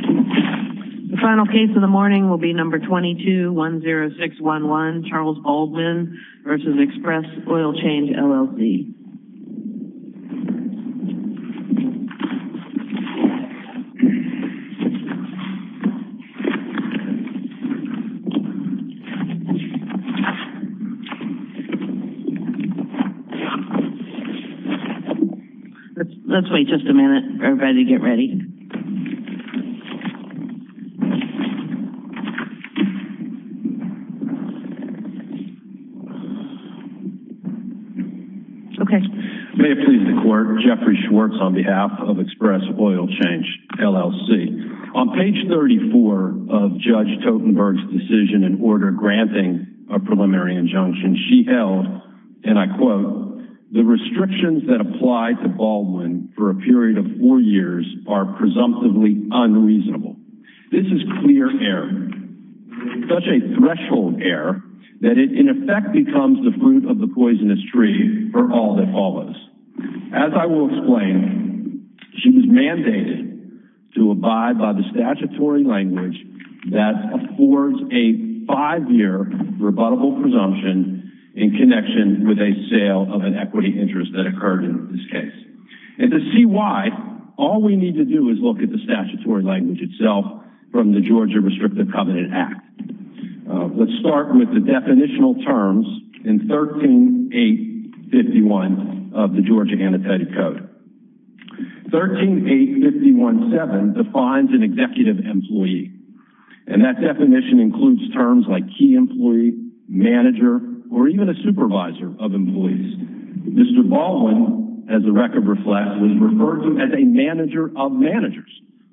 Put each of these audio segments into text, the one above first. The final case of the morning will be number 22-10611 Charles Baldwin v. Express Oil Change, LLC. Let's wait just a minute for everybody to get ready. May it please the court, Jeffrey Schwartz on behalf of Express Oil Change, LLC. On page 34 of Judge Totenberg's decision in order granting a preliminary injunction, she held, and I quote, The restrictions that apply to Baldwin for a period of four years are presumptively unreasonable. This is clear error. Such a threshold error that it in effect becomes the fruit of the poisonous tree for all that follows. As I will explain, she was mandated to abide by the statutory language that affords a five-year rebuttable presumption in connection with a sale of an equity interest that occurred in this case. And to see why, all we need to do is look at the statutory language itself from the Georgia Restrictive Covenant Act. Let's start with the definitional terms in 13-851 of the Georgia Annotated Code. 13-851-7 defines an executive employee. And that definition includes terms like key employee, manager, or even a supervisor of employees. Mr. Baldwin, as the record reflects, was referred to as a manager of managers.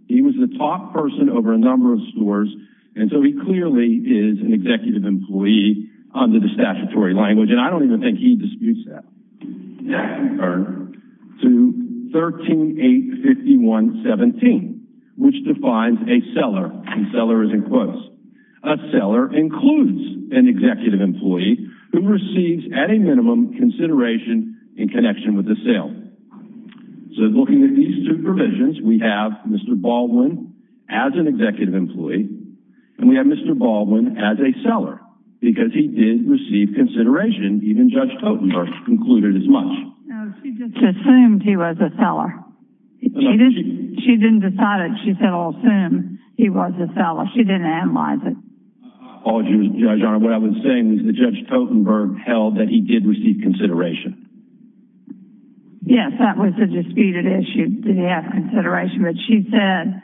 He was the top person over a number of stores, and so he clearly is an executive employee under the statutory language. And I don't even think he disputes that. That can turn to 13-851-17, which defines a seller. And seller is in quotes. A seller includes an executive employee who receives, at a minimum, consideration in connection with a sale. So looking at these two provisions, we have Mr. Baldwin as an executive employee, and we have Mr. Baldwin as a seller, because he did receive consideration. Even Judge Totenberg concluded as much. No, she just assumed he was a seller. She didn't decide it. She said, I'll assume he was a seller. She didn't analyze it. Apologies, Your Honor. What I was saying is that Judge Totenberg held that he did receive consideration. Yes, that was a disputed issue, did he have consideration. But she said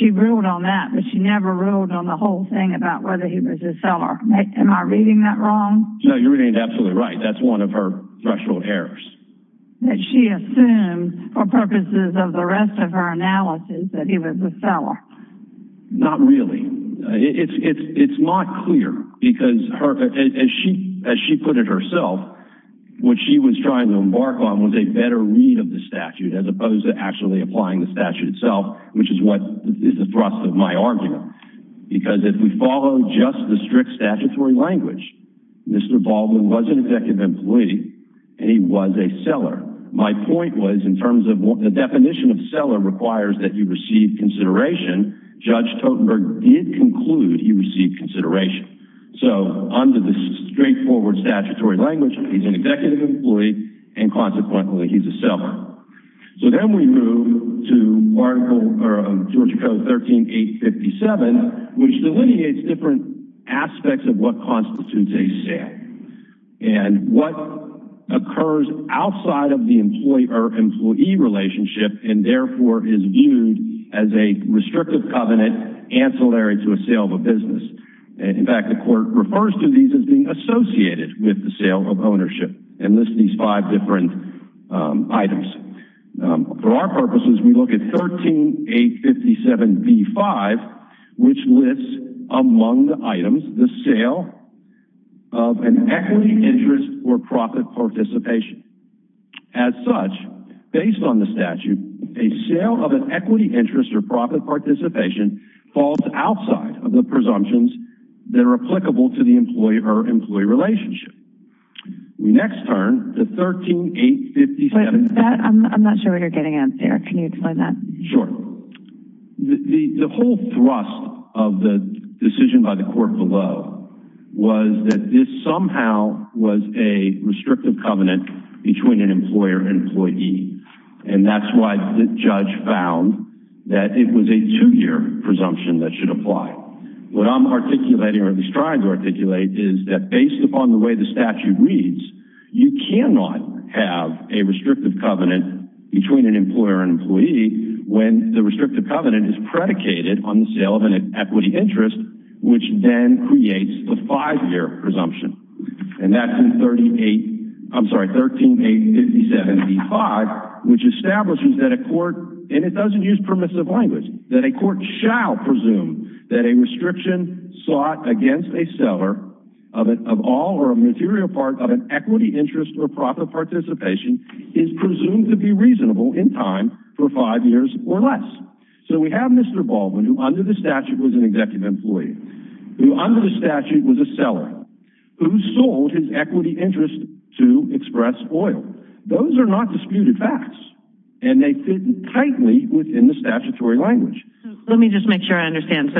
she ruled on that, but she never ruled on the whole thing about whether he was a seller. Am I reading that wrong? No, you're absolutely right. That's one of her threshold errors. That she assumed, for purposes of the rest of her analysis, that he was a seller. Not really. It's not clear, because as she put it herself, what she was trying to embark on was a better read of the statute, as opposed to actually applying the statute itself, which is the thrust of my argument. Because if we follow just the strict statutory language, Mr. Baldwin was an executive employee, and he was a seller. My point was, in terms of the definition of seller requires that you receive consideration, Judge Totenberg did conclude he received consideration. So under the straightforward statutory language, he's an executive employee, and consequently, he's a seller. So then we move to Georgia Code 13-857, which delineates different aspects of what constitutes a sale, and what occurs outside of the employee-employee relationship, and therefore is viewed as a restrictive covenant ancillary to a sale of a business. In fact, the court refers to these as being associated with the sale of ownership, and lists these five different items. For our purposes, we look at 13-857b-5, which lists among the items the sale of an equity, interest, or profit participation. As such, based on the statute, a sale of an equity, interest, or profit participation falls outside of the presumptions that are applicable to the employee-employee relationship. We next turn to 13-857. I'm not sure what you're getting at, sir. Can you explain that? Sure. The whole thrust of the decision by the court below was that this somehow was a restrictive covenant between an employer and employee, and that's why the judge found that it was a two-year presumption that should apply. What I'm articulating, or at least trying to articulate, is that based upon the way the statute reads, you cannot have a restrictive covenant between an employer and employee when the restrictive covenant is predicated on the sale of an equity, interest, which then creates the five-year presumption. And that's in 13-857b-5, which establishes that a court, and it doesn't use permissive language, that a court shall presume that a restriction sought against a seller of all or a material part of an equity, interest, or profit participation is presumed to be reasonable in time for five years or less. So we have Mr. Baldwin, who under the statute was an executive employee, who under the statute was a seller, who sold his equity, interest to Express Oil. Those are not disputed facts, and they fit tightly within the statutory language. Let me just make sure I understand.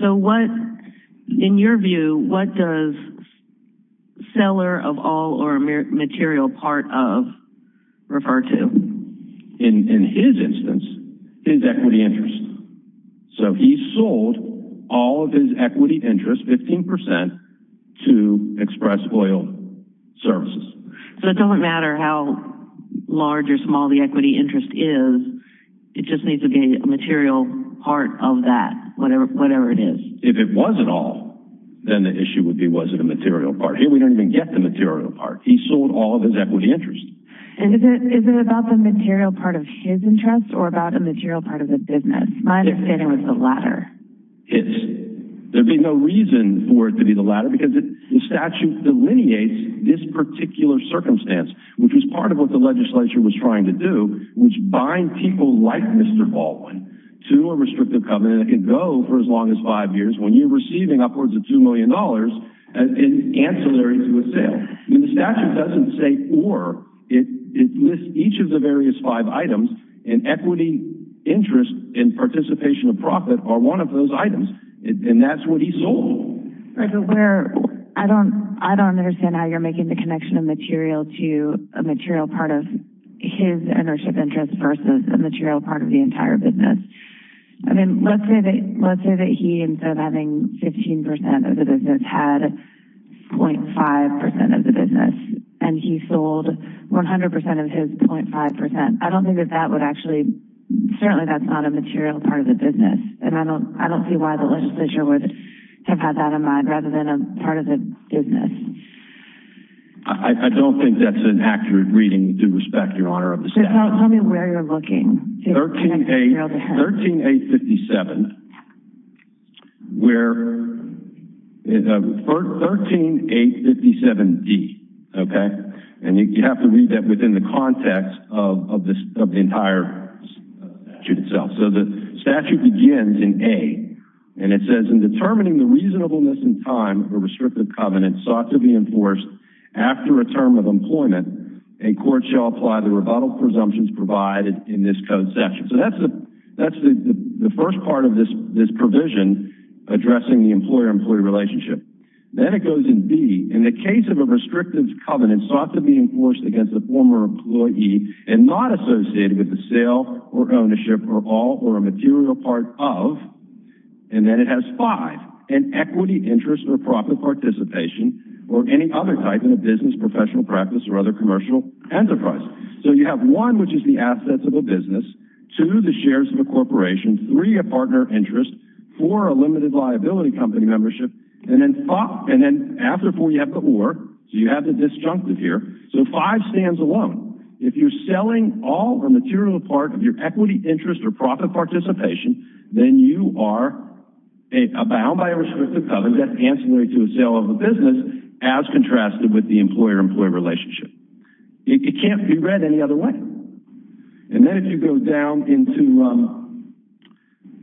So what, in your view, what does seller of all or material part of refer to? In his instance, his equity, interest. So he sold all of his equity, interest, 15%, to Express Oil Services. So it doesn't matter how large or small the equity, interest is. It just needs to be a material part of that, whatever it is. If it was an all, then the issue would be was it a material part. Here we don't even get the material part. He sold all of his equity, interest. And is it about the material part of his interest or about a material part of the business? My understanding was the latter. There would be no reason for it to be the latter because the statute delineates this particular circumstance, which was part of what the legislature was trying to do, which bind people like Mr. Baldwin to a restrictive covenant that can go for as long as five years when you're receiving upwards of $2 million in ancillary to a sale. The statute doesn't say or. It lists each of the various five items, and equity, interest, and participation of profit are one of those items, and that's what he sold. I don't understand how you're making the connection of material to a material part of his ownership interest versus a material part of the entire business. I mean, let's say that he instead of having 15% of the business had 0.5% of the business, and he sold 100% of his 0.5%. I don't think that that would actually—certainly that's not a material part of the business, and I don't see why the legislature would have had that in mind rather than a part of the business. I don't think that's an accurate reading. We do respect your honor of the statute. Tell me where you're looking. 13-857. Where—13-857-D, okay? And you have to read that within the context of the entire statute itself. So the statute begins in A, and it says, In determining the reasonableness and time of a restrictive covenant sought to be enforced after a term of employment, a court shall apply the rebuttal presumptions provided in this code section. So that's the first part of this provision addressing the employer-employee relationship. Then it goes in B. In the case of a restrictive covenant sought to be enforced against a former employee and not associated with the sale or ownership or all or a material part of, and then it has five, an equity, interest, or profit participation or any other type in a business, professional practice, or other commercial enterprise. So you have one, which is the assets of a business, two, the shares of a corporation, three, a partner interest, four, a limited liability company membership, and then after four you have the or, so you have the disjunctive here. So five stands alone. If you're selling all or material part of your equity, interest, or profit participation, then you are bound by a restrictive covenant ancillary to a sale of a business as contrasted with the employer-employee relationship. It can't be read any other way. And then if you go down into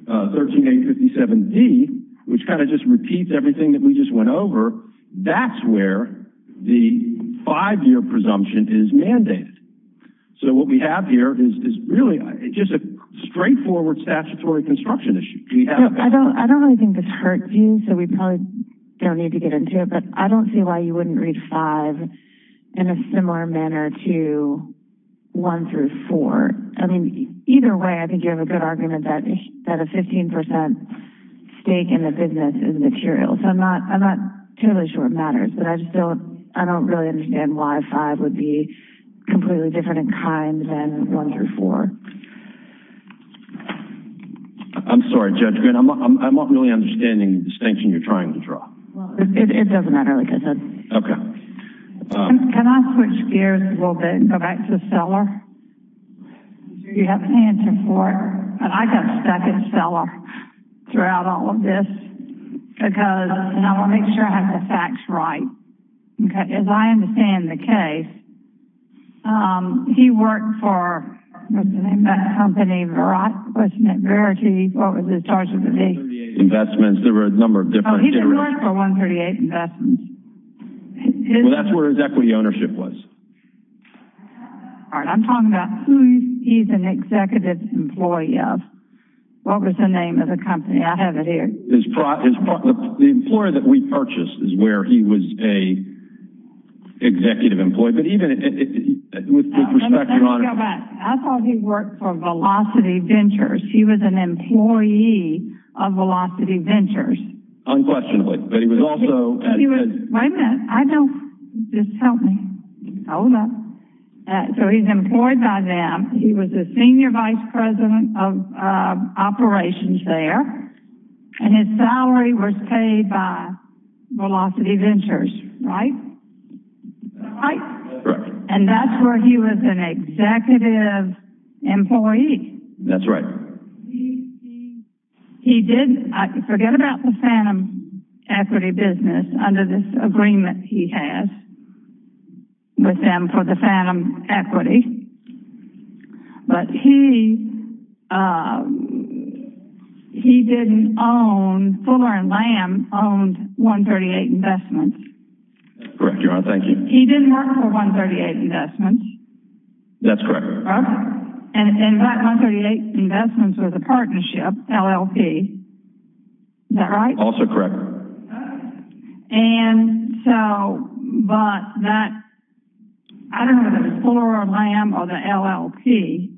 13A57D, which kind of just repeats everything that we just went over, that's where the five-year presumption is mandated. So what we have here is really just a straightforward statutory construction issue. I don't really think this hurts you, so we probably don't need to get into it, but I don't see why you wouldn't read five in a similar manner to one through four. I mean, either way, I think you have a good argument that a 15% stake in a business is material. So I'm not totally sure it matters, but I just don't really understand why five would be completely different in kind than one through four. I'm sorry, Judge Green. I'm not really understanding the distinction you're trying to draw. Well, it doesn't matter, like I said. Okay. Can I switch gears a little bit and go back to Seller? I'm sure you have an answer for it, but I got stuck in Seller throughout all of this because—and I want to make sure I have the facts right. As I understand the case, he worked for—what's the name of that company? Verity. What was his charge of the day? There were a number of different— He didn't work for 138 Investments. Well, that's where his equity ownership was. All right. I'm talking about who he's an executive employee of. What was the name of the company? I have it here. The employer that we purchased is where he was an executive employee. But even with the perspective— Let me go back. I thought he worked for Velocity Ventures. He was an employee of Velocity Ventures. Unquestionably. But he was also— Wait a minute. I don't—just tell me. Hold up. So he's employed by them. He was the senior vice president of operations there. And his salary was paid by Velocity Ventures, right? Right. Correct. And that's where he was an executive employee. That's right. He did—forget about the Phantom Equity business. Under this agreement he has with them for the Phantom Equity. But he didn't own—Fuller and Lamb owned 138 Investments. Correct, Your Honor. Thank you. He didn't work for 138 Investments. That's correct. And that 138 Investments was a partnership, LLP. Is that right? Also correct. And so—but that—I don't know if it was Fuller or Lamb or the LLP.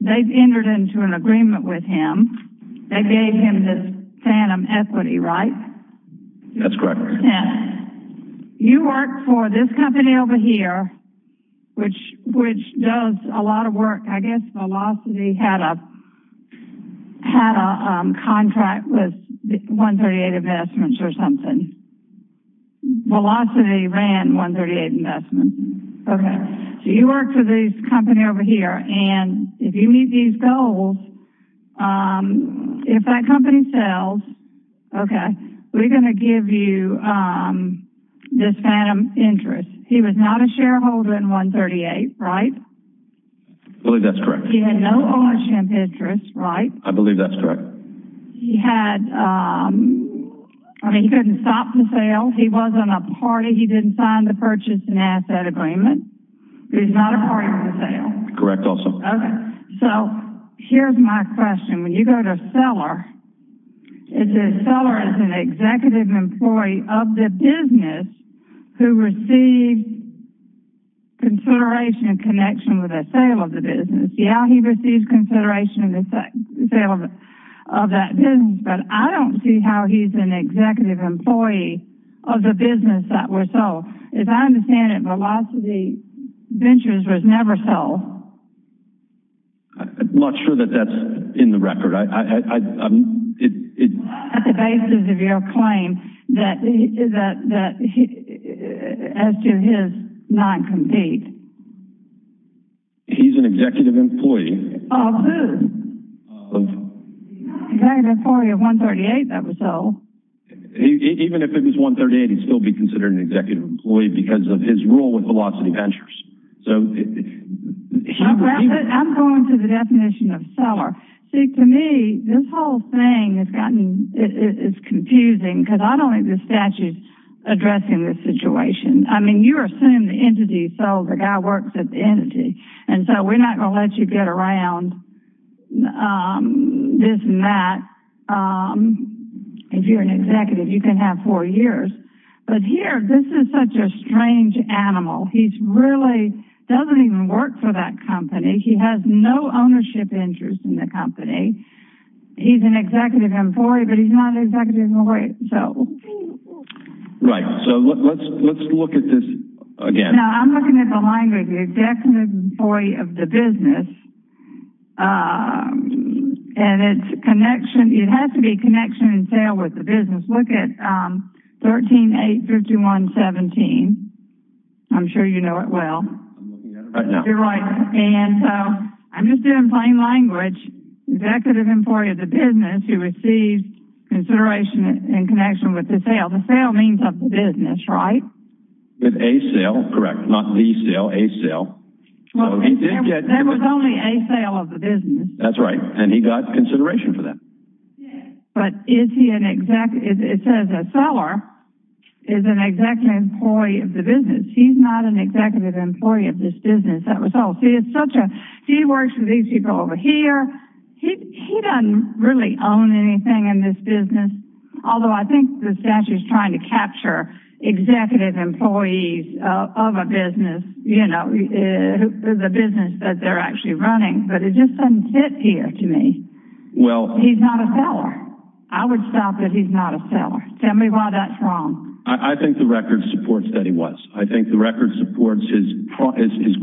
They've entered into an agreement with him. They gave him this Phantom Equity, right? That's correct. You worked for this company over here, which does a lot of work. I guess Velocity had a contract with 138 Investments or something. Velocity ran 138 Investments. Okay. So you worked for this company over here. And if you meet these goals, if that company sells, okay, we're going to give you this Phantom interest. He was not a shareholder in 138, right? I believe that's correct. He had no ownership interest, right? I believe that's correct. He had—I mean, he couldn't stop the sale. He wasn't a party. He didn't sign the purchase and asset agreement. He was not a party to the sale. Correct also. Okay. So here's my question. When you go to Seller, it says Seller is an executive employee of the business who received consideration and connection with the sale of the business. Yeah, he received consideration of the sale of that business, but I don't see how he's an executive employee of the business that was sold. As I understand it, Velocity Ventures was never sold. I'm not sure that that's in the record. It's not at the basis of your claim that he—as to his non-compete. He's an executive employee. Of who? Executive employee of 138 that was sold. Even if it was 138, he'd still be considered an executive employee because of his role with Velocity Ventures. So he— I'm going to the definition of Seller. See, to me, this whole thing has gotten—it's confusing because I don't think the statute's addressing this situation. I mean, you assume the entity sold. The guy works at the entity. And so we're not going to let you get around this and that. If you're an executive, you can have four years. But here, this is such a strange animal. He's really—doesn't even work for that company. He has no ownership interest in the company. He's an executive employee, but he's not an executive employee. Right. So let's look at this again. No, I'm looking at the language. Executive employee of the business. And it's connection—it has to be a connection in sale with the business. Look at 13-8-51-17. I'm sure you know it well. I'm looking at it right now. You're right. And so I'm just doing plain language. Executive employee of the business who receives consideration in connection with the sale. The sale means of the business, right? With a sale, correct. Not the sale, a sale. There was only a sale of the business. That's right. And he got consideration for that. But is he an executive—it says a seller is an executive employee of the business. He's not an executive employee of this business. That was all. See, it's such a—he works for these people over here. He doesn't really own anything in this business. Although I think the statute's trying to capture executive employees of a business. You know, the business that they're actually running. But it just doesn't fit here to me. He's not a seller. I would stop at he's not a seller. Tell me why that's wrong. I think the record supports that he was. I think the record supports his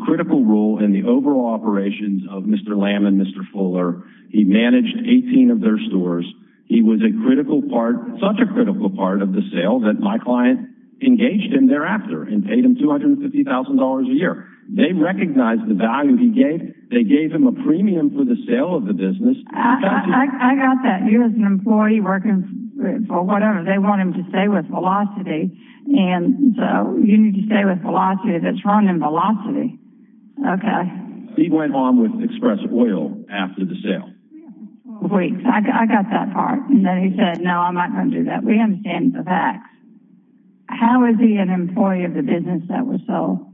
critical role in the overall operations of Mr. Lamb and Mr. Fuller. He managed 18 of their stores. He was a critical part—such a critical part of the sale that my client engaged him thereafter and paid him $250,000 a year. They recognized the value he gave. They gave him a premium for the sale of the business. I got that. He was an employee working for whatever. They want him to stay with Velocity. And so you need to stay with Velocity if it's running Velocity. Okay. He went on with Express Oil after the sale. Wait, I got that part. And then he said, no, I'm not going to do that. We understand the facts. How is he an employee of the business that was sold?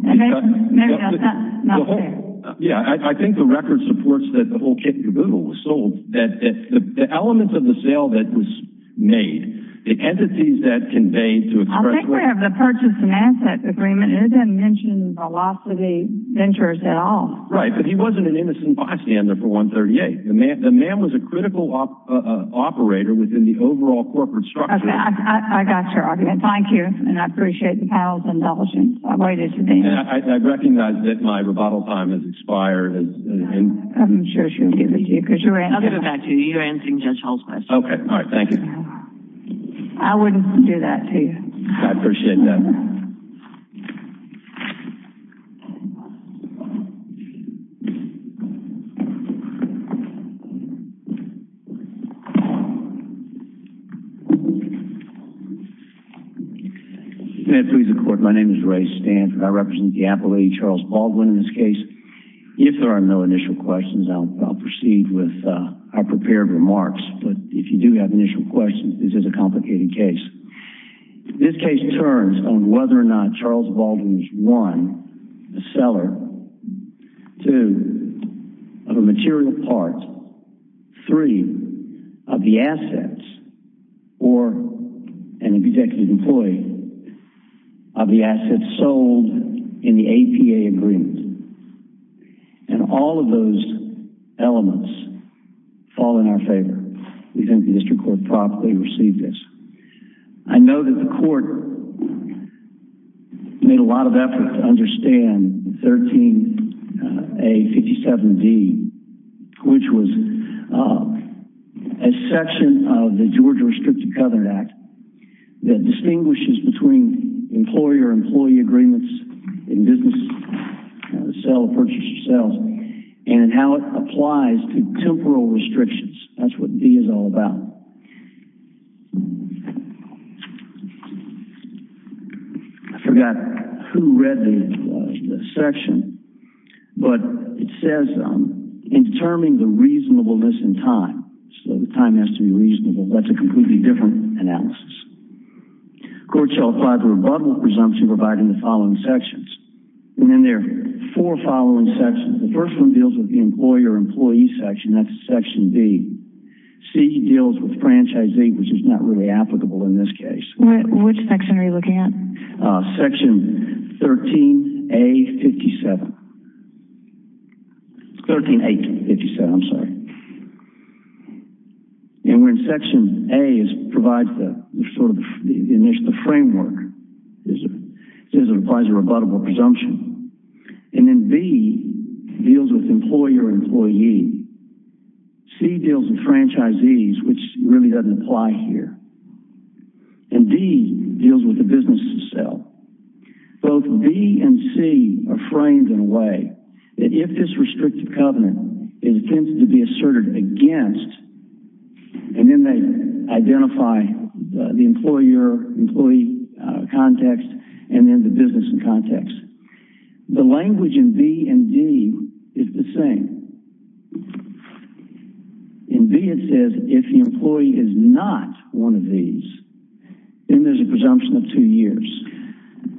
Maybe that's not fair. Yeah, I think the record supports that the whole kit and caboodle was sold. The elements of the sale that was made, the entities that conveyed to Express Oil— I think we have the purchase and asset agreement. It doesn't mention Velocity Ventures at all. Right, but he wasn't an innocent bystander for 138. The man was a critical operator within the overall corporate structure. I got your argument. Thank you, and I appreciate the panel's indulgence. I recognize that my rebuttal time has expired. I'm sure she'll give it to you. I'll give it back to you. You're answering Judge Hall's question. Okay. All right. Thank you. I wouldn't do that to you. I appreciate that. Thank you. May it please the Court, my name is Ray Stanford. I represent the Apple Lady, Charles Baldwin, in this case. If there are no initial questions, I'll proceed with our prepared remarks. But if you do have initial questions, this is a complicated case. This case turns on whether or not Charles Baldwin was, one, a seller, two, of a material part, three, of the assets, or an executive employee, of the assets sold in the APA agreement. And all of those elements fall in our favor. We think the district court properly received this. I know that the court made a lot of effort to understand 13A57D, which was a section of the Georgia Restricted Covenant Act that distinguishes between employer-employee agreements in business, sell, purchase, or sell, and how it applies to temporal restrictions. That's what B is all about. I forgot who read the section, but it says in determining the reasonableness in time, so the time has to be reasonable. That's a completely different analysis. Court shall apply the rebuttal presumption provided in the following sections. There are four following sections. The first one deals with the employer-employee section, that's section B. C deals with franchisee, which is not really applicable in this case. Which section are you looking at? Section 13A57. Section A provides the initial framework. It says it applies a rebuttable presumption. And then B deals with employer-employee. C deals with franchisees, which really doesn't apply here. And D deals with the business of sell. Both B and C are framed in a way that if this restrictive covenant is intended to be asserted against, and then they identify the employer-employee context, and then the business in context. The language in B and D is the same. In B it says if the employee is not one of these, then there's a presumption of two years.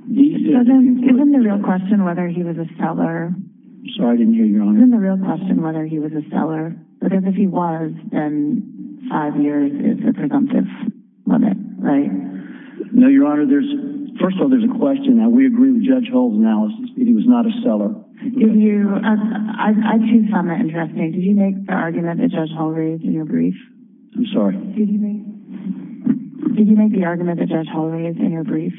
Isn't the real question whether he was a seller? Sorry, I didn't hear you, Your Honor. Isn't the real question whether he was a seller? Because if he was, then five years is a presumptive limit, right? No, Your Honor. First of all, there's a question that we agree with Judge Hull's analysis. He was not a seller. I do find that interesting. Did you make the argument that Judge Hull raised in your brief? I'm sorry? Did you make the argument that Judge Hull raised in your brief?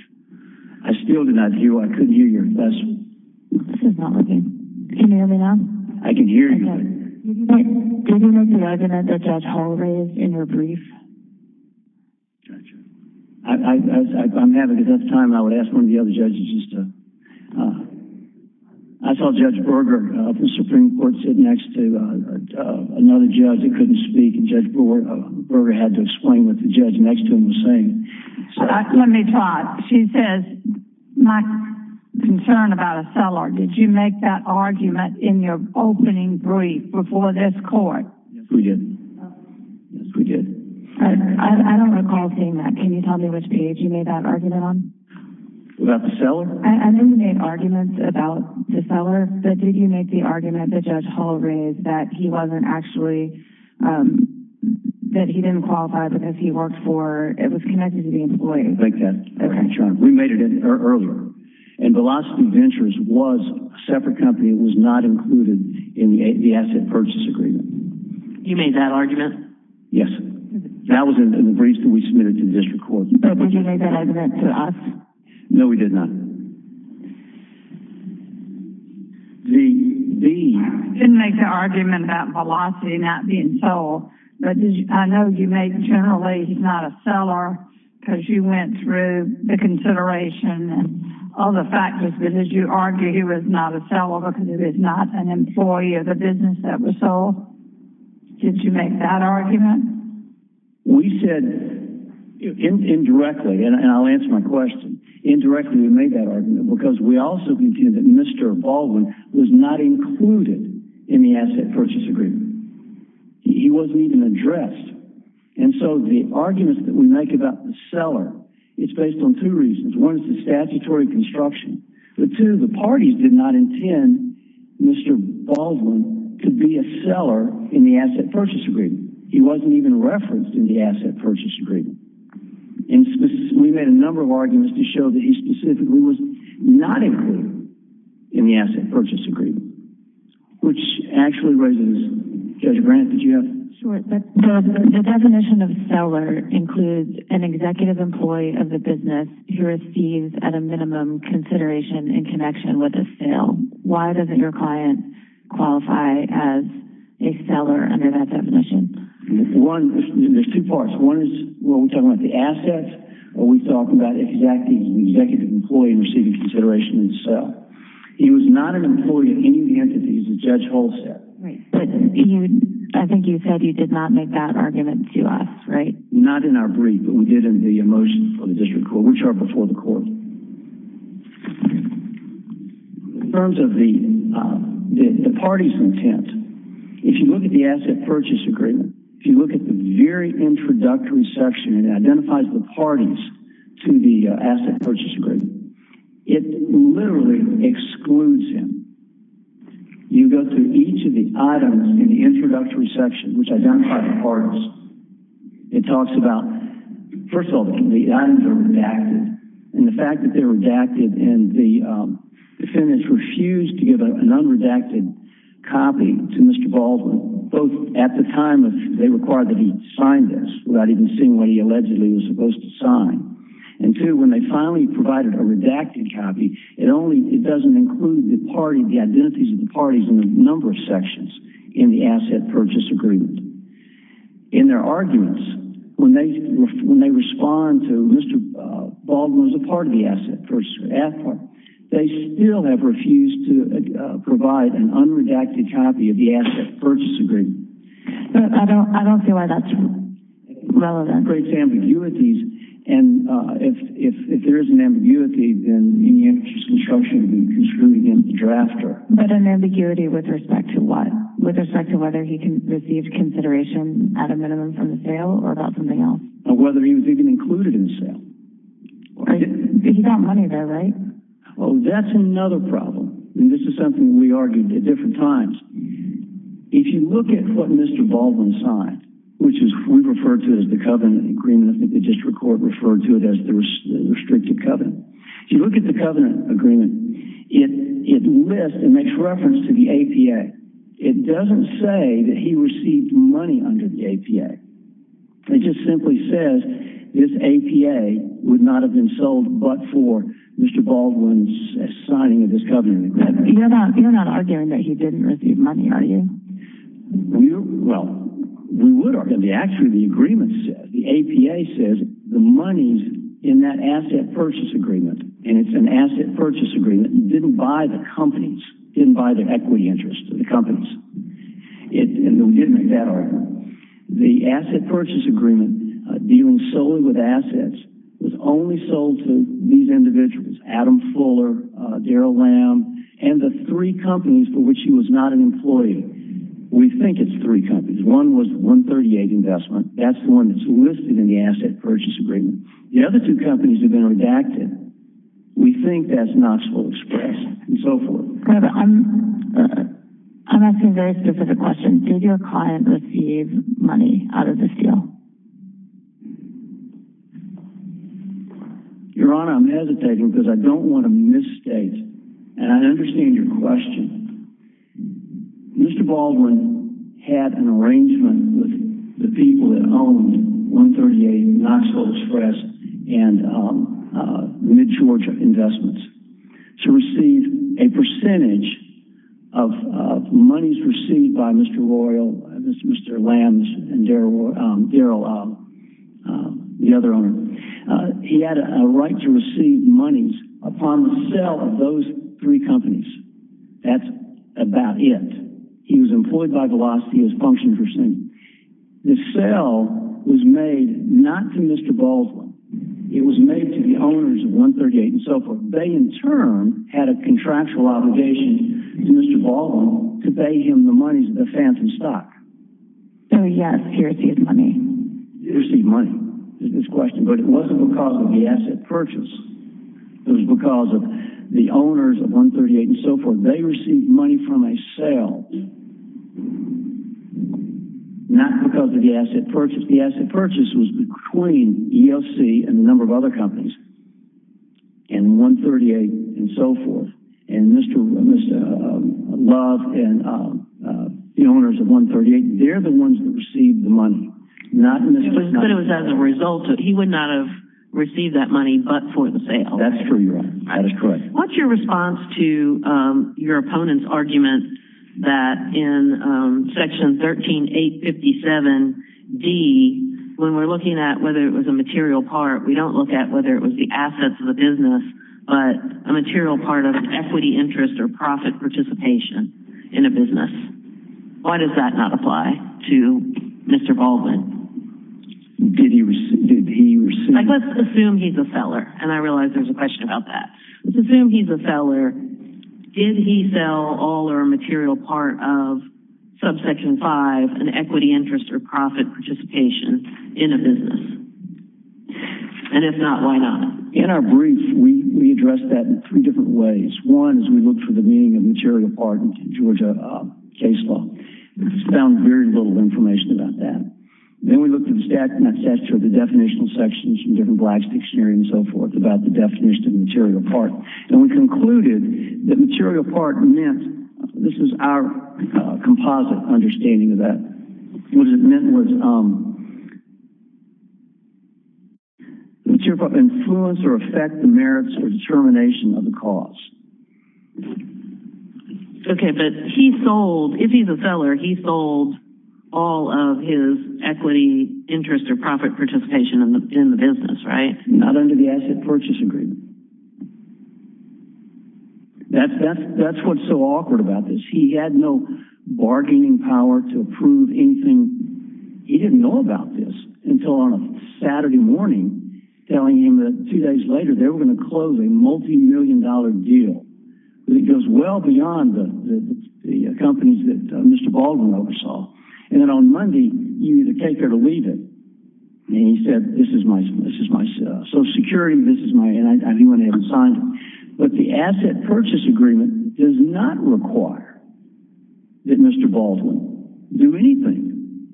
I still did not hear you. I couldn't hear you. This is not working. Can you hear me now? I can hear you. Did you make the argument that Judge Hull raised in your brief? I'm having a tough time. I would ask one of the other judges just to – I saw Judge Berger of the Supreme Court sitting next to another judge who couldn't speak, and Judge Berger had to explain what the judge next to him was saying. Let me try. She says, my concern about a seller. Did you make that argument in your opening brief before this court? Yes, we did. Yes, we did. I don't recall seeing that. Can you tell me which page you made that argument on? About the seller? I know you made arguments about the seller, but did you make the argument that Judge Hull raised that he wasn't actually – that he didn't qualify because he worked for – it was connected to the employee? I didn't make that argument, Sean. We made it earlier. And Velocity Ventures was a separate company. It was not included in the asset purchase agreement. You made that argument? Yes. That was in the briefs that we submitted to the district court. But did you make that argument to us? No, we did not. The – I didn't make the argument about Velocity not being sold, but I know you made generally he's not a seller because you went through the consideration and all the factors, but did you argue he was not a seller because he was not an employee of the business that was sold? Did you make that argument? We said indirectly, and I'll answer my question, indirectly we made that argument because we also concluded that Mr. Baldwin was not included in the asset purchase agreement. He wasn't even addressed. And so the arguments that we make about the seller, it's based on two reasons. One is the statutory construction. The two, the parties did not intend Mr. Baldwin to be a seller in the asset purchase agreement. He wasn't even referenced in the asset purchase agreement. And we made a number of arguments to show that he specifically was not included in the asset purchase agreement, which actually raises, Judge Grant, did you have? Sure. The definition of seller includes an executive employee of the business who receives at a minimum consideration in connection with a sale. Why doesn't your client qualify as a seller under that definition? One, there's two parts. One is when we're talking about the assets, we're talking about the executive employee receiving consideration in sale. He was not an employee of any of the entities that Judge Hull said. I think you said you did not make that argument to us, right? Not in our brief, but we did in the motion for the district court, which are before the court. In terms of the parties' intent, if you look at the asset purchase agreement, if you look at the very introductory section, it identifies the parties to the asset purchase agreement. It literally excludes him. You go through each of the items in the introductory section, which identifies the parties. It talks about, first of all, the items are redacted, and the fact that they're redacted, and the defendants refused to give an unredacted copy to Mr. Baldwin, both at the time they required that he sign this, without even seeing what he allegedly was supposed to sign, and two, when they finally provided a redacted copy, it doesn't include the identities of the parties in the number of sections in the asset purchase agreement. In their arguments, when they respond to Mr. Baldwin as a part of the asset purchase agreement, they still have refused to provide an unredacted copy of the asset purchase agreement. I don't see why that's relevant. It separates ambiguities, and if there is an ambiguity, then the construction would be construed against the drafter. But an ambiguity with respect to what? With respect to whether he received consideration at a minimum from the sale or about something else? Or whether he was even included in the sale. He got money there, right? That's another problem, and this is something we argued at different times. If you look at what Mr. Baldwin signed, which we referred to as the covenant agreement, I think the district court referred to it as the restricted covenant. If you look at the covenant agreement, it lists and makes reference to the APA. It doesn't say that he received money under the APA. It just simply says this APA would not have been sold but for Mr. Baldwin's signing of this covenant agreement. You're not arguing that he didn't receive money, are you? Well, we would argue. Actually, the agreement says, the APA says, the monies in that asset purchase agreement, and it's an asset purchase agreement, didn't buy the companies, didn't buy the equity interests of the companies. And we did make that argument. The asset purchase agreement dealing solely with assets was only sold to these individuals, Adam Fuller, Darrell Lamb, and the three companies for which he was not an employee. We think it's three companies. One was the 138 investment. That's the one that's listed in the asset purchase agreement. The other two companies have been redacted. We think that's Knoxville Express and so forth. I'm asking a very specific question. Did your client receive money out of this deal? Your Honor, I'm hesitating because I don't want to misstate, and I understand your question. Mr. Baldwin had an arrangement with the people that owned 138, Knoxville Express, and Mid-Georgia Investments to receive a percentage of monies received by Mr. Royal, Mr. Lamb, and Darrell, the other owner. He had a right to receive monies upon the sale of those three companies. That's about it. He was employed by Velocity as functioned per se. The sale was made not to Mr. Baldwin. It was made to the owners of 138 and so forth. They, in turn, had a contractual obligation to Mr. Baldwin to pay him the monies of the phantom stock. So, yes, he received money. He received money, is his question. But it wasn't because of the asset purchase. It was because of the owners of 138 and so forth. They received money from a sale, not because of the asset purchase. The asset purchase was between ELC and a number of other companies and 138 and so forth. And Mr. Love and the owners of 138, they're the ones that received the money. But it was as a result. He would not have received that money but for the sale. That's true, Your Honor. That is correct. What's your response to your opponent's argument that in Section 13857D, when we're looking at whether it was a material part, we don't look at whether it was the assets of the business, but a material part of an equity interest or profit participation in a business. Why does that not apply to Mr. Baldwin? Did he receive? Let's assume he's a seller, and I realize there's a question about that. Let's assume he's a seller. Did he sell all or a material part of Subsection 5, an equity interest or profit participation in a business? And if not, why not? In our brief, we addressed that in three different ways. One is we looked for the meaning of material part in Georgia case law. We found very little information about that. Then we looked at the definitional sections in different blackstick hearings and so forth about the definition of material part. And we concluded that material part meant, this is our composite understanding of that, what it meant was material part influence or affect the merits or determination of the cause. Okay, but he sold, if he's a seller, he sold all of his equity interest or profit participation in the business, right? Not under the asset purchase agreement. That's what's so awkward about this. He had no bargaining power to approve anything. He didn't know about this until on a Saturday morning, telling him that two days later they were going to close a multi-million dollar deal. It goes well beyond the companies that Mr. Baldwin oversaw. And then on Monday, you either take it or leave it. And he said, this is my social security, and I didn't want to have it signed. But the asset purchase agreement does not require that Mr. Baldwin do anything.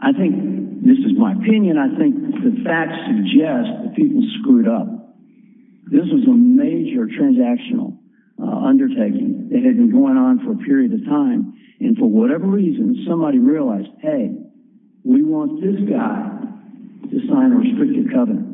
I think this is my opinion. I think the facts suggest that people screwed up. This was a major transactional undertaking that had been going on for a period of time. And for whatever reason, somebody realized, hey, we want this guy to sign a restricted covenant.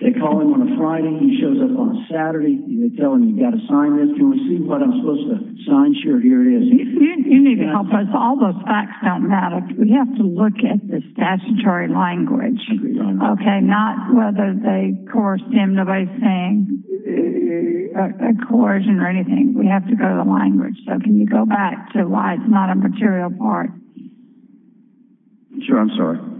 They call him on a Friday. He shows up on a Saturday. They tell him, you've got to sign this. Can we see what I'm supposed to sign? Sure, here it is. You need to help us. All those facts don't matter. We have to look at the statutory language. Okay, not whether they coerced him by saying a coercion or anything. We have to go to the language. So can you go back to why it's not a material part? Sure, I'm sorry. Sure.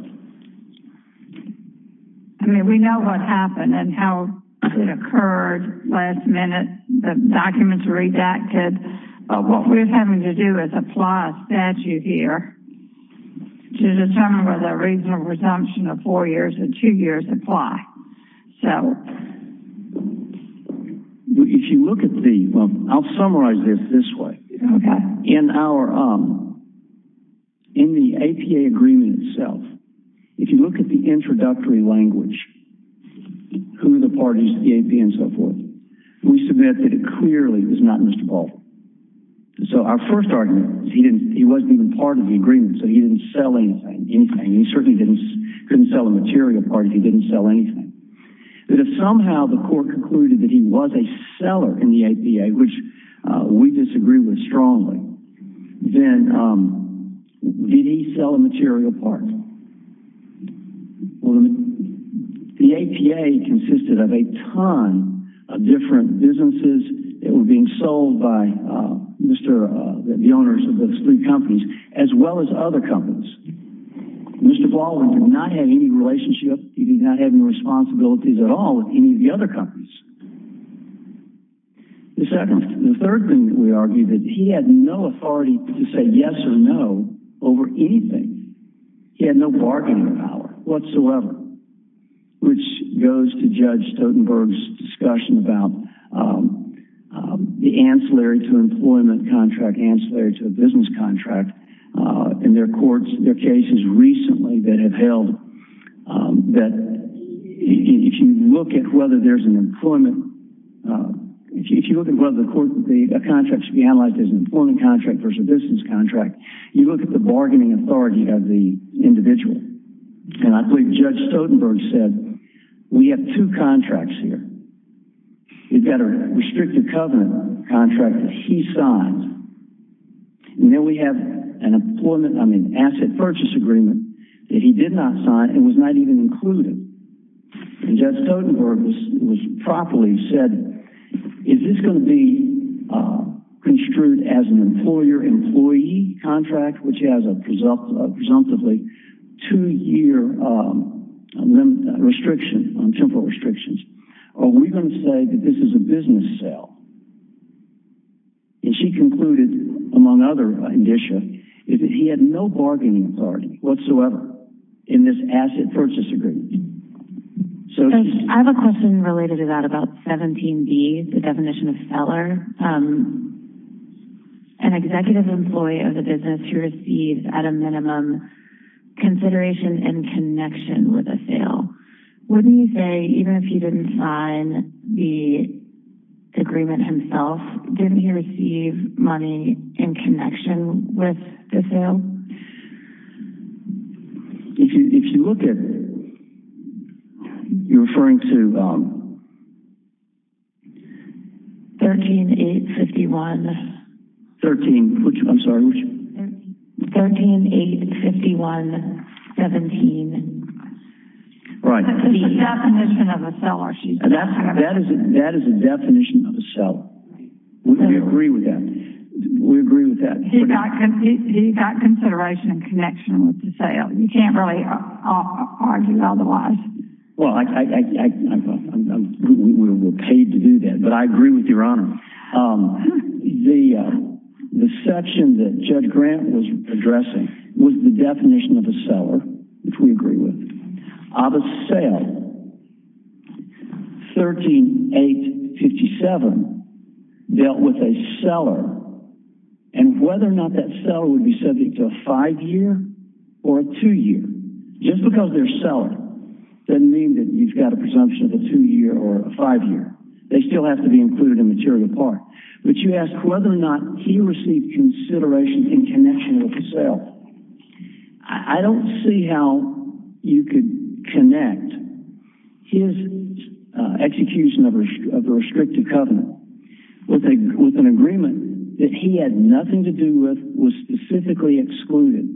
I mean, we know what happened and how it occurred last minute. The documents are redacted. But what we're having to do is apply a statute here to determine whether a reasonable resumption of four years or two years apply. If you look at the ‑‑ I'll summarize this this way. Okay. In our ‑‑ in the APA agreement itself, if you look at the introductory language, who are the parties to the APA and so forth, we submit that it clearly was not Mr. Baldwin. So our first argument is he wasn't even part of the agreement, so he didn't sell anything. He certainly couldn't sell a material part if he didn't sell anything. But if somehow the court concluded that he was a seller in the APA, which we disagree with strongly, then did he sell a material part? The APA consisted of a ton of different businesses that were being sold by Mr. ‑‑ the owners of those three companies, as well as other companies. Mr. Baldwin did not have any relationship. He did not have any responsibilities at all with any of the other companies. The second ‑‑ the third thing that we argue, that he had no authority to say yes or no over anything. He had no bargaining power whatsoever, which goes to Judge Stotenberg's discussion about the ancillary to employment contract, ancillary to a business contract. And there are courts, there are cases recently that have held that if you look at whether there's an employment ‑‑ if you look at whether a contract should be analyzed as an employment contract versus a business contract, you look at the bargaining authority of the individual. And I believe Judge Stotenberg said, we have two contracts here. We've got a restrictive covenant contract that he signed. And then we have an employment ‑‑ I mean, asset purchase agreement that he did not sign and was not even included. And Judge Stotenberg was properly said, is this going to be construed as an employer‑employee contract, which has a presumptively two‑year restriction, temporal restrictions, or are we going to say that this is a business sale? And she concluded, among other indicia, that he had no bargaining authority whatsoever in this asset purchase agreement. So she ‑‑ I have a question related to that about 17B, the definition of seller. An executive employee of the business who receives at a minimum consideration in connection with a sale. Wouldn't you say, even if he didn't sign the agreement himself, didn't he receive money in connection with the sale? If you look at ‑‑ you're referring to ‑‑ 13851. 13, which ‑‑ I'm sorry, which? 13851.17. The definition of a seller. That is a definition of a seller. We agree with that. We agree with that. He got consideration in connection with the sale. You can't really argue otherwise. Well, I ‑‑ we're paid to do that. But I agree with Your Honor. The section that Judge Grant was addressing was the definition of a seller, which we agree with. Of a sale, 13857 dealt with a seller. And whether or not that seller would be subject to a five‑year or a two‑year, just because they're a seller doesn't mean that you've got a presumption of a two‑year or a five‑year. They still have to be included in the material part. But you ask whether or not he received consideration in connection with the sale. I don't see how you could connect his execution of the restrictive covenant with an agreement that he had nothing to do with, was specifically excluded.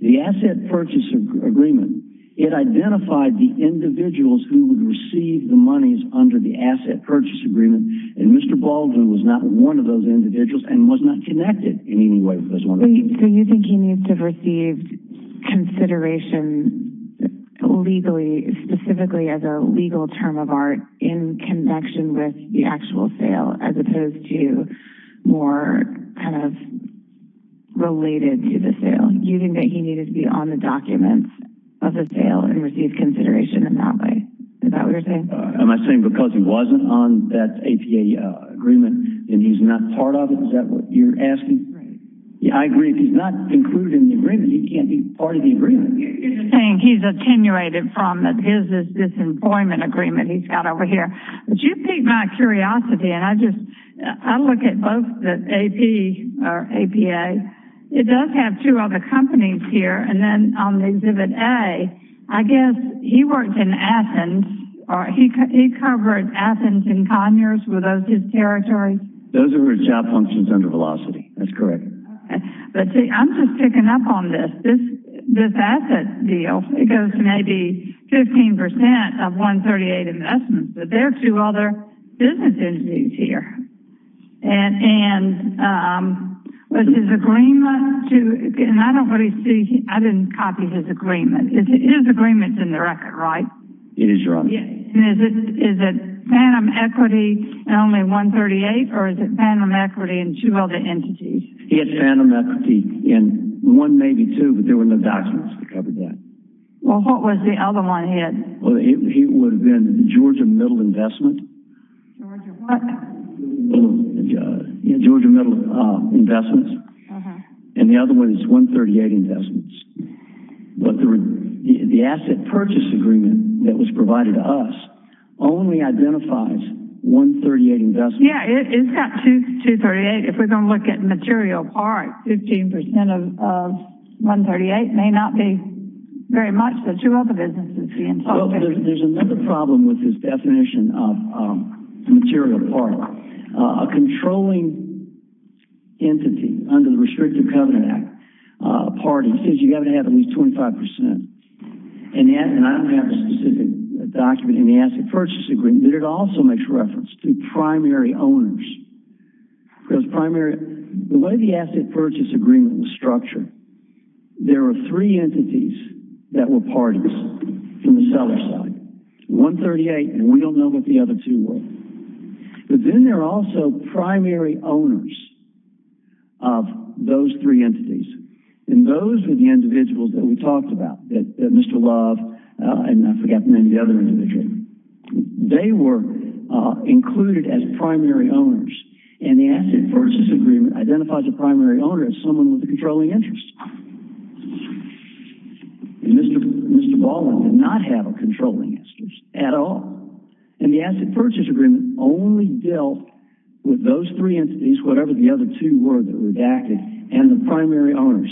The asset purchase agreement, it identified the individuals who would receive the monies under the asset purchase agreement, and Mr. Baldwin was not one of those individuals and was not connected in any way with this one. So you think he needs to have received consideration legally, specifically as a legal term of art, in connection with the actual sale, as opposed to more kind of related to the sale. You think that he needed to be on the documents of the sale and receive consideration in that way. Is that what you're saying? Am I saying because he wasn't on that APA agreement and he's not part of it? Is that what you're asking? Right. I agree if he's not included in the agreement, he can't be part of the agreement. You're saying he's attenuated from his disemployment agreement he's got over here. But you piqued my curiosity, and I look at both the AP or APA. It does have two other companies here, and then on the Exhibit A, I guess he worked in Athens, or he covered Athens and Conyers. Were those his territories? Those are his job functions under Velocity. That's correct. Okay. But, see, I'm just picking up on this. This asset deal, it goes to maybe 15% of 138 investments, but there are two other business entities here. And was his agreement to – and I don't really see – I didn't copy his agreement. His agreement's in the record, right? It is, Your Honor. Is it Phantom Equity and only 138, or is it Phantom Equity and two other entities? He had Phantom Equity and one, maybe two, but there were no documents that covered that. Well, what was the other one he had? Well, it would have been the Georgia Middle Investment. Georgia what? Georgia Middle Investments. And the other one is 138 Investments. But the asset purchase agreement that was provided to us only identifies 138 investments. Yeah, it's got 238. If we're going to look at material part, 15% of 138 may not be very much, but two other businesses would be involved. There's another problem with his definition of material part. A controlling entity under the Restrictive Covenant Act, a party, says you've got to have at least 25%. And I don't have a specific document in the asset purchase agreement, but it also makes reference to primary owners. Because the way the asset purchase agreement was structured, there were three entities that were parties from the seller side. 138, and we don't know what the other two were. But then there are also primary owners of those three entities, and those were the individuals that we talked about, Mr. Love and I forget the name of the other individual. They were included as primary owners, and the asset purchase agreement identifies a primary owner as someone with a controlling interest. And Mr. Baldwin did not have a controlling interest at all. And the asset purchase agreement only dealt with those three entities, whatever the other two were that were redacted, and the primary owners.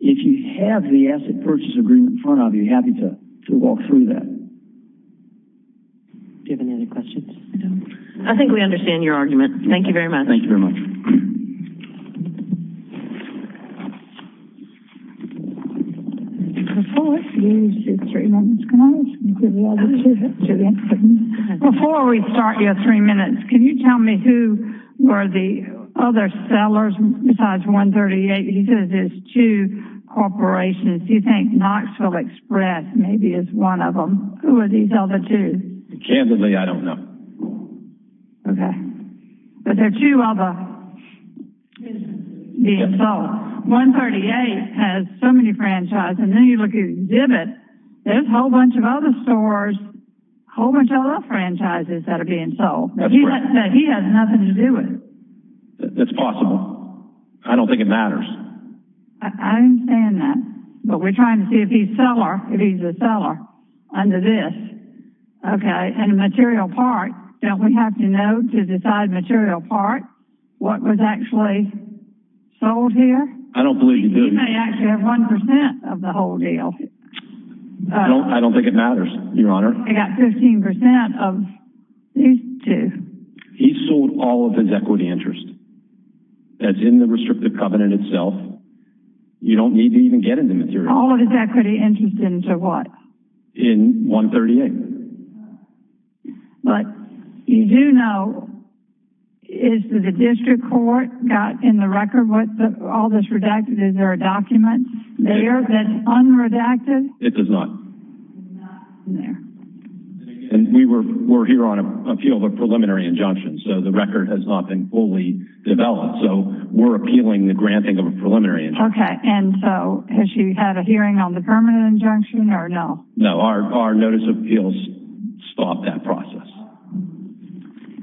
If you have the asset purchase agreement in front of you, I'd be happy to walk through that. Do you have any other questions? I think we understand your argument. Thank you very much. Thank you very much. Before we start your three minutes, can you tell me who were the other sellers besides 138? He says there's two corporations. Do you think Knoxville Express maybe is one of them? Who are these other two? Candidly, I don't know. Okay. But there are two other businesses being sold. 138 has so many franchises. And then you look at Zibit. There's a whole bunch of other stores. A whole bunch of other franchises that are being sold. That's correct. But he has nothing to do with it. That's possible. I don't think it matters. I understand that. But we're trying to see if he's a seller under this. Okay. And material part, don't we have to know to decide material part what was actually sold here? I don't believe you do. He may actually have 1% of the whole deal. I don't think it matters, Your Honor. I got 15% of these two. He sold all of his equity interest. That's in the restrictive covenant itself. You don't need to even get into material part. All of his equity interest into what? In 138. But you do know, is the district court got in the record what all this redacted? Is there a document? They have been unredacted? It does not. There. And we're here on appeal of a preliminary injunction. So the record has not been fully developed. So we're appealing the granting of a preliminary injunction. Okay. And so has she had a hearing on the permanent injunction or no? No. Our notice of appeals stopped that process.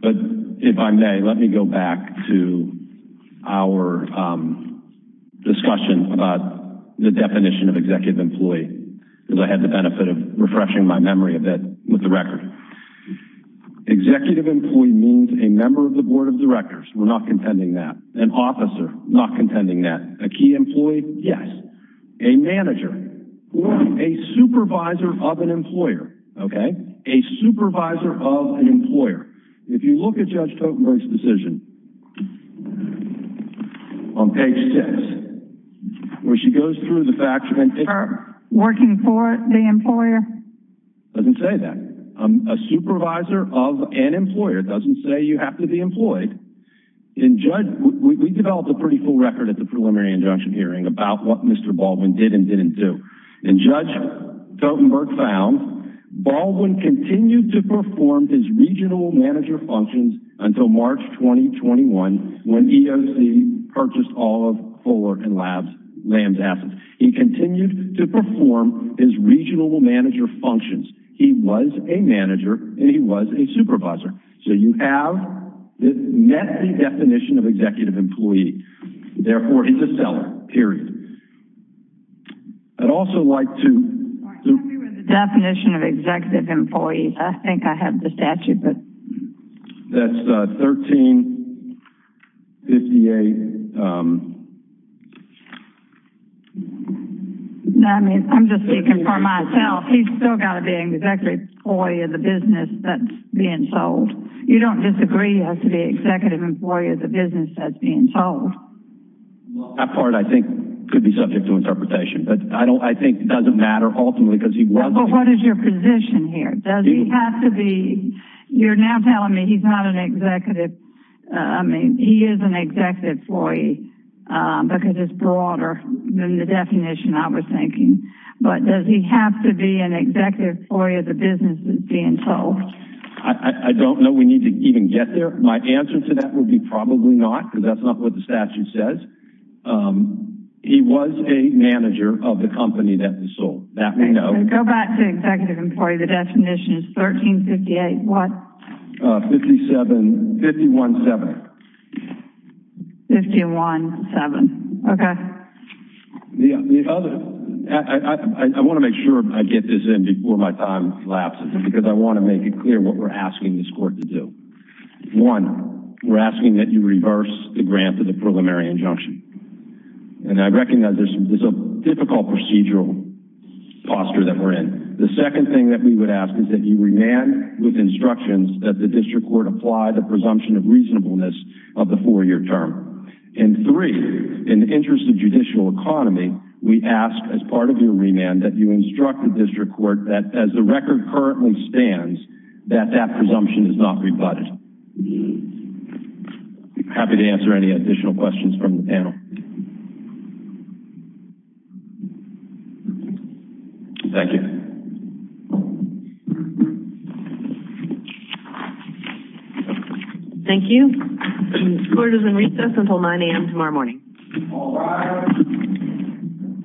But if I may, let me go back to our discussion about the definition of executive employee. Because I had the benefit of refreshing my memory a bit with the record. Executive employee means a member of the board of directors. We're not contending that. An officer. Not contending that. A key employee? Yes. A manager. Or a supervisor of an employer. Okay. A supervisor of an employer. If you look at Judge Totenberg's decision, on page six, where she goes through the facts. Working for the employer? Doesn't say that. A supervisor of an employer doesn't say you have to be employed. We developed a pretty full record at the preliminary injunction hearing about what Mr. Baldwin did and didn't do. And Judge Totenberg found Baldwin continued to perform his regional manager functions until March 2021, when EOC purchased all of Kohler and Lamb's assets. He continued to perform his regional manager functions. He was a manager and he was a supervisor. So you have met the definition of executive employee. Therefore, he's a seller. Period. I'd also like to... Tell me what the definition of executive employee is. I think I have the statute. That's 1358... I'm just speaking for myself. He's still got to be an executive employee of the business that's being sold. You don't disagree he has to be an executive employee of the business that's being sold. That part, I think, could be subject to interpretation. But I think it doesn't matter ultimately because he was... But what is your position here? Does he have to be... You're now telling me he's not an executive... I mean, he is an executive employee because it's broader than the definition I was thinking. But does he have to be an executive employee of the business that's being sold? I don't know we need to even get there. My answer to that would be probably not because that's not what the statute says. He was a manager of the company that was sold. That we know. Go back to executive employee. The definition is 1358. What? 517. 517. Okay. The other... I want to make sure I get this in before my time collapses because I want to make it clear what we're asking this court to do. One, we're asking that you reverse the grant of the preliminary injunction. And I recognize this is a difficult procedural posture that we're in. The second thing that we would ask is that you remand with instructions that the district court apply the presumption of reasonableness of the four-year term. And three, in the interest of judicial economy, we ask as part of your remand that you instruct the district court that as the record currently stands, that that presumption is not rebutted. Happy to answer any additional questions from the panel. Thank you. Thank you. Court is in recess until 9 a.m. tomorrow morning. All rise.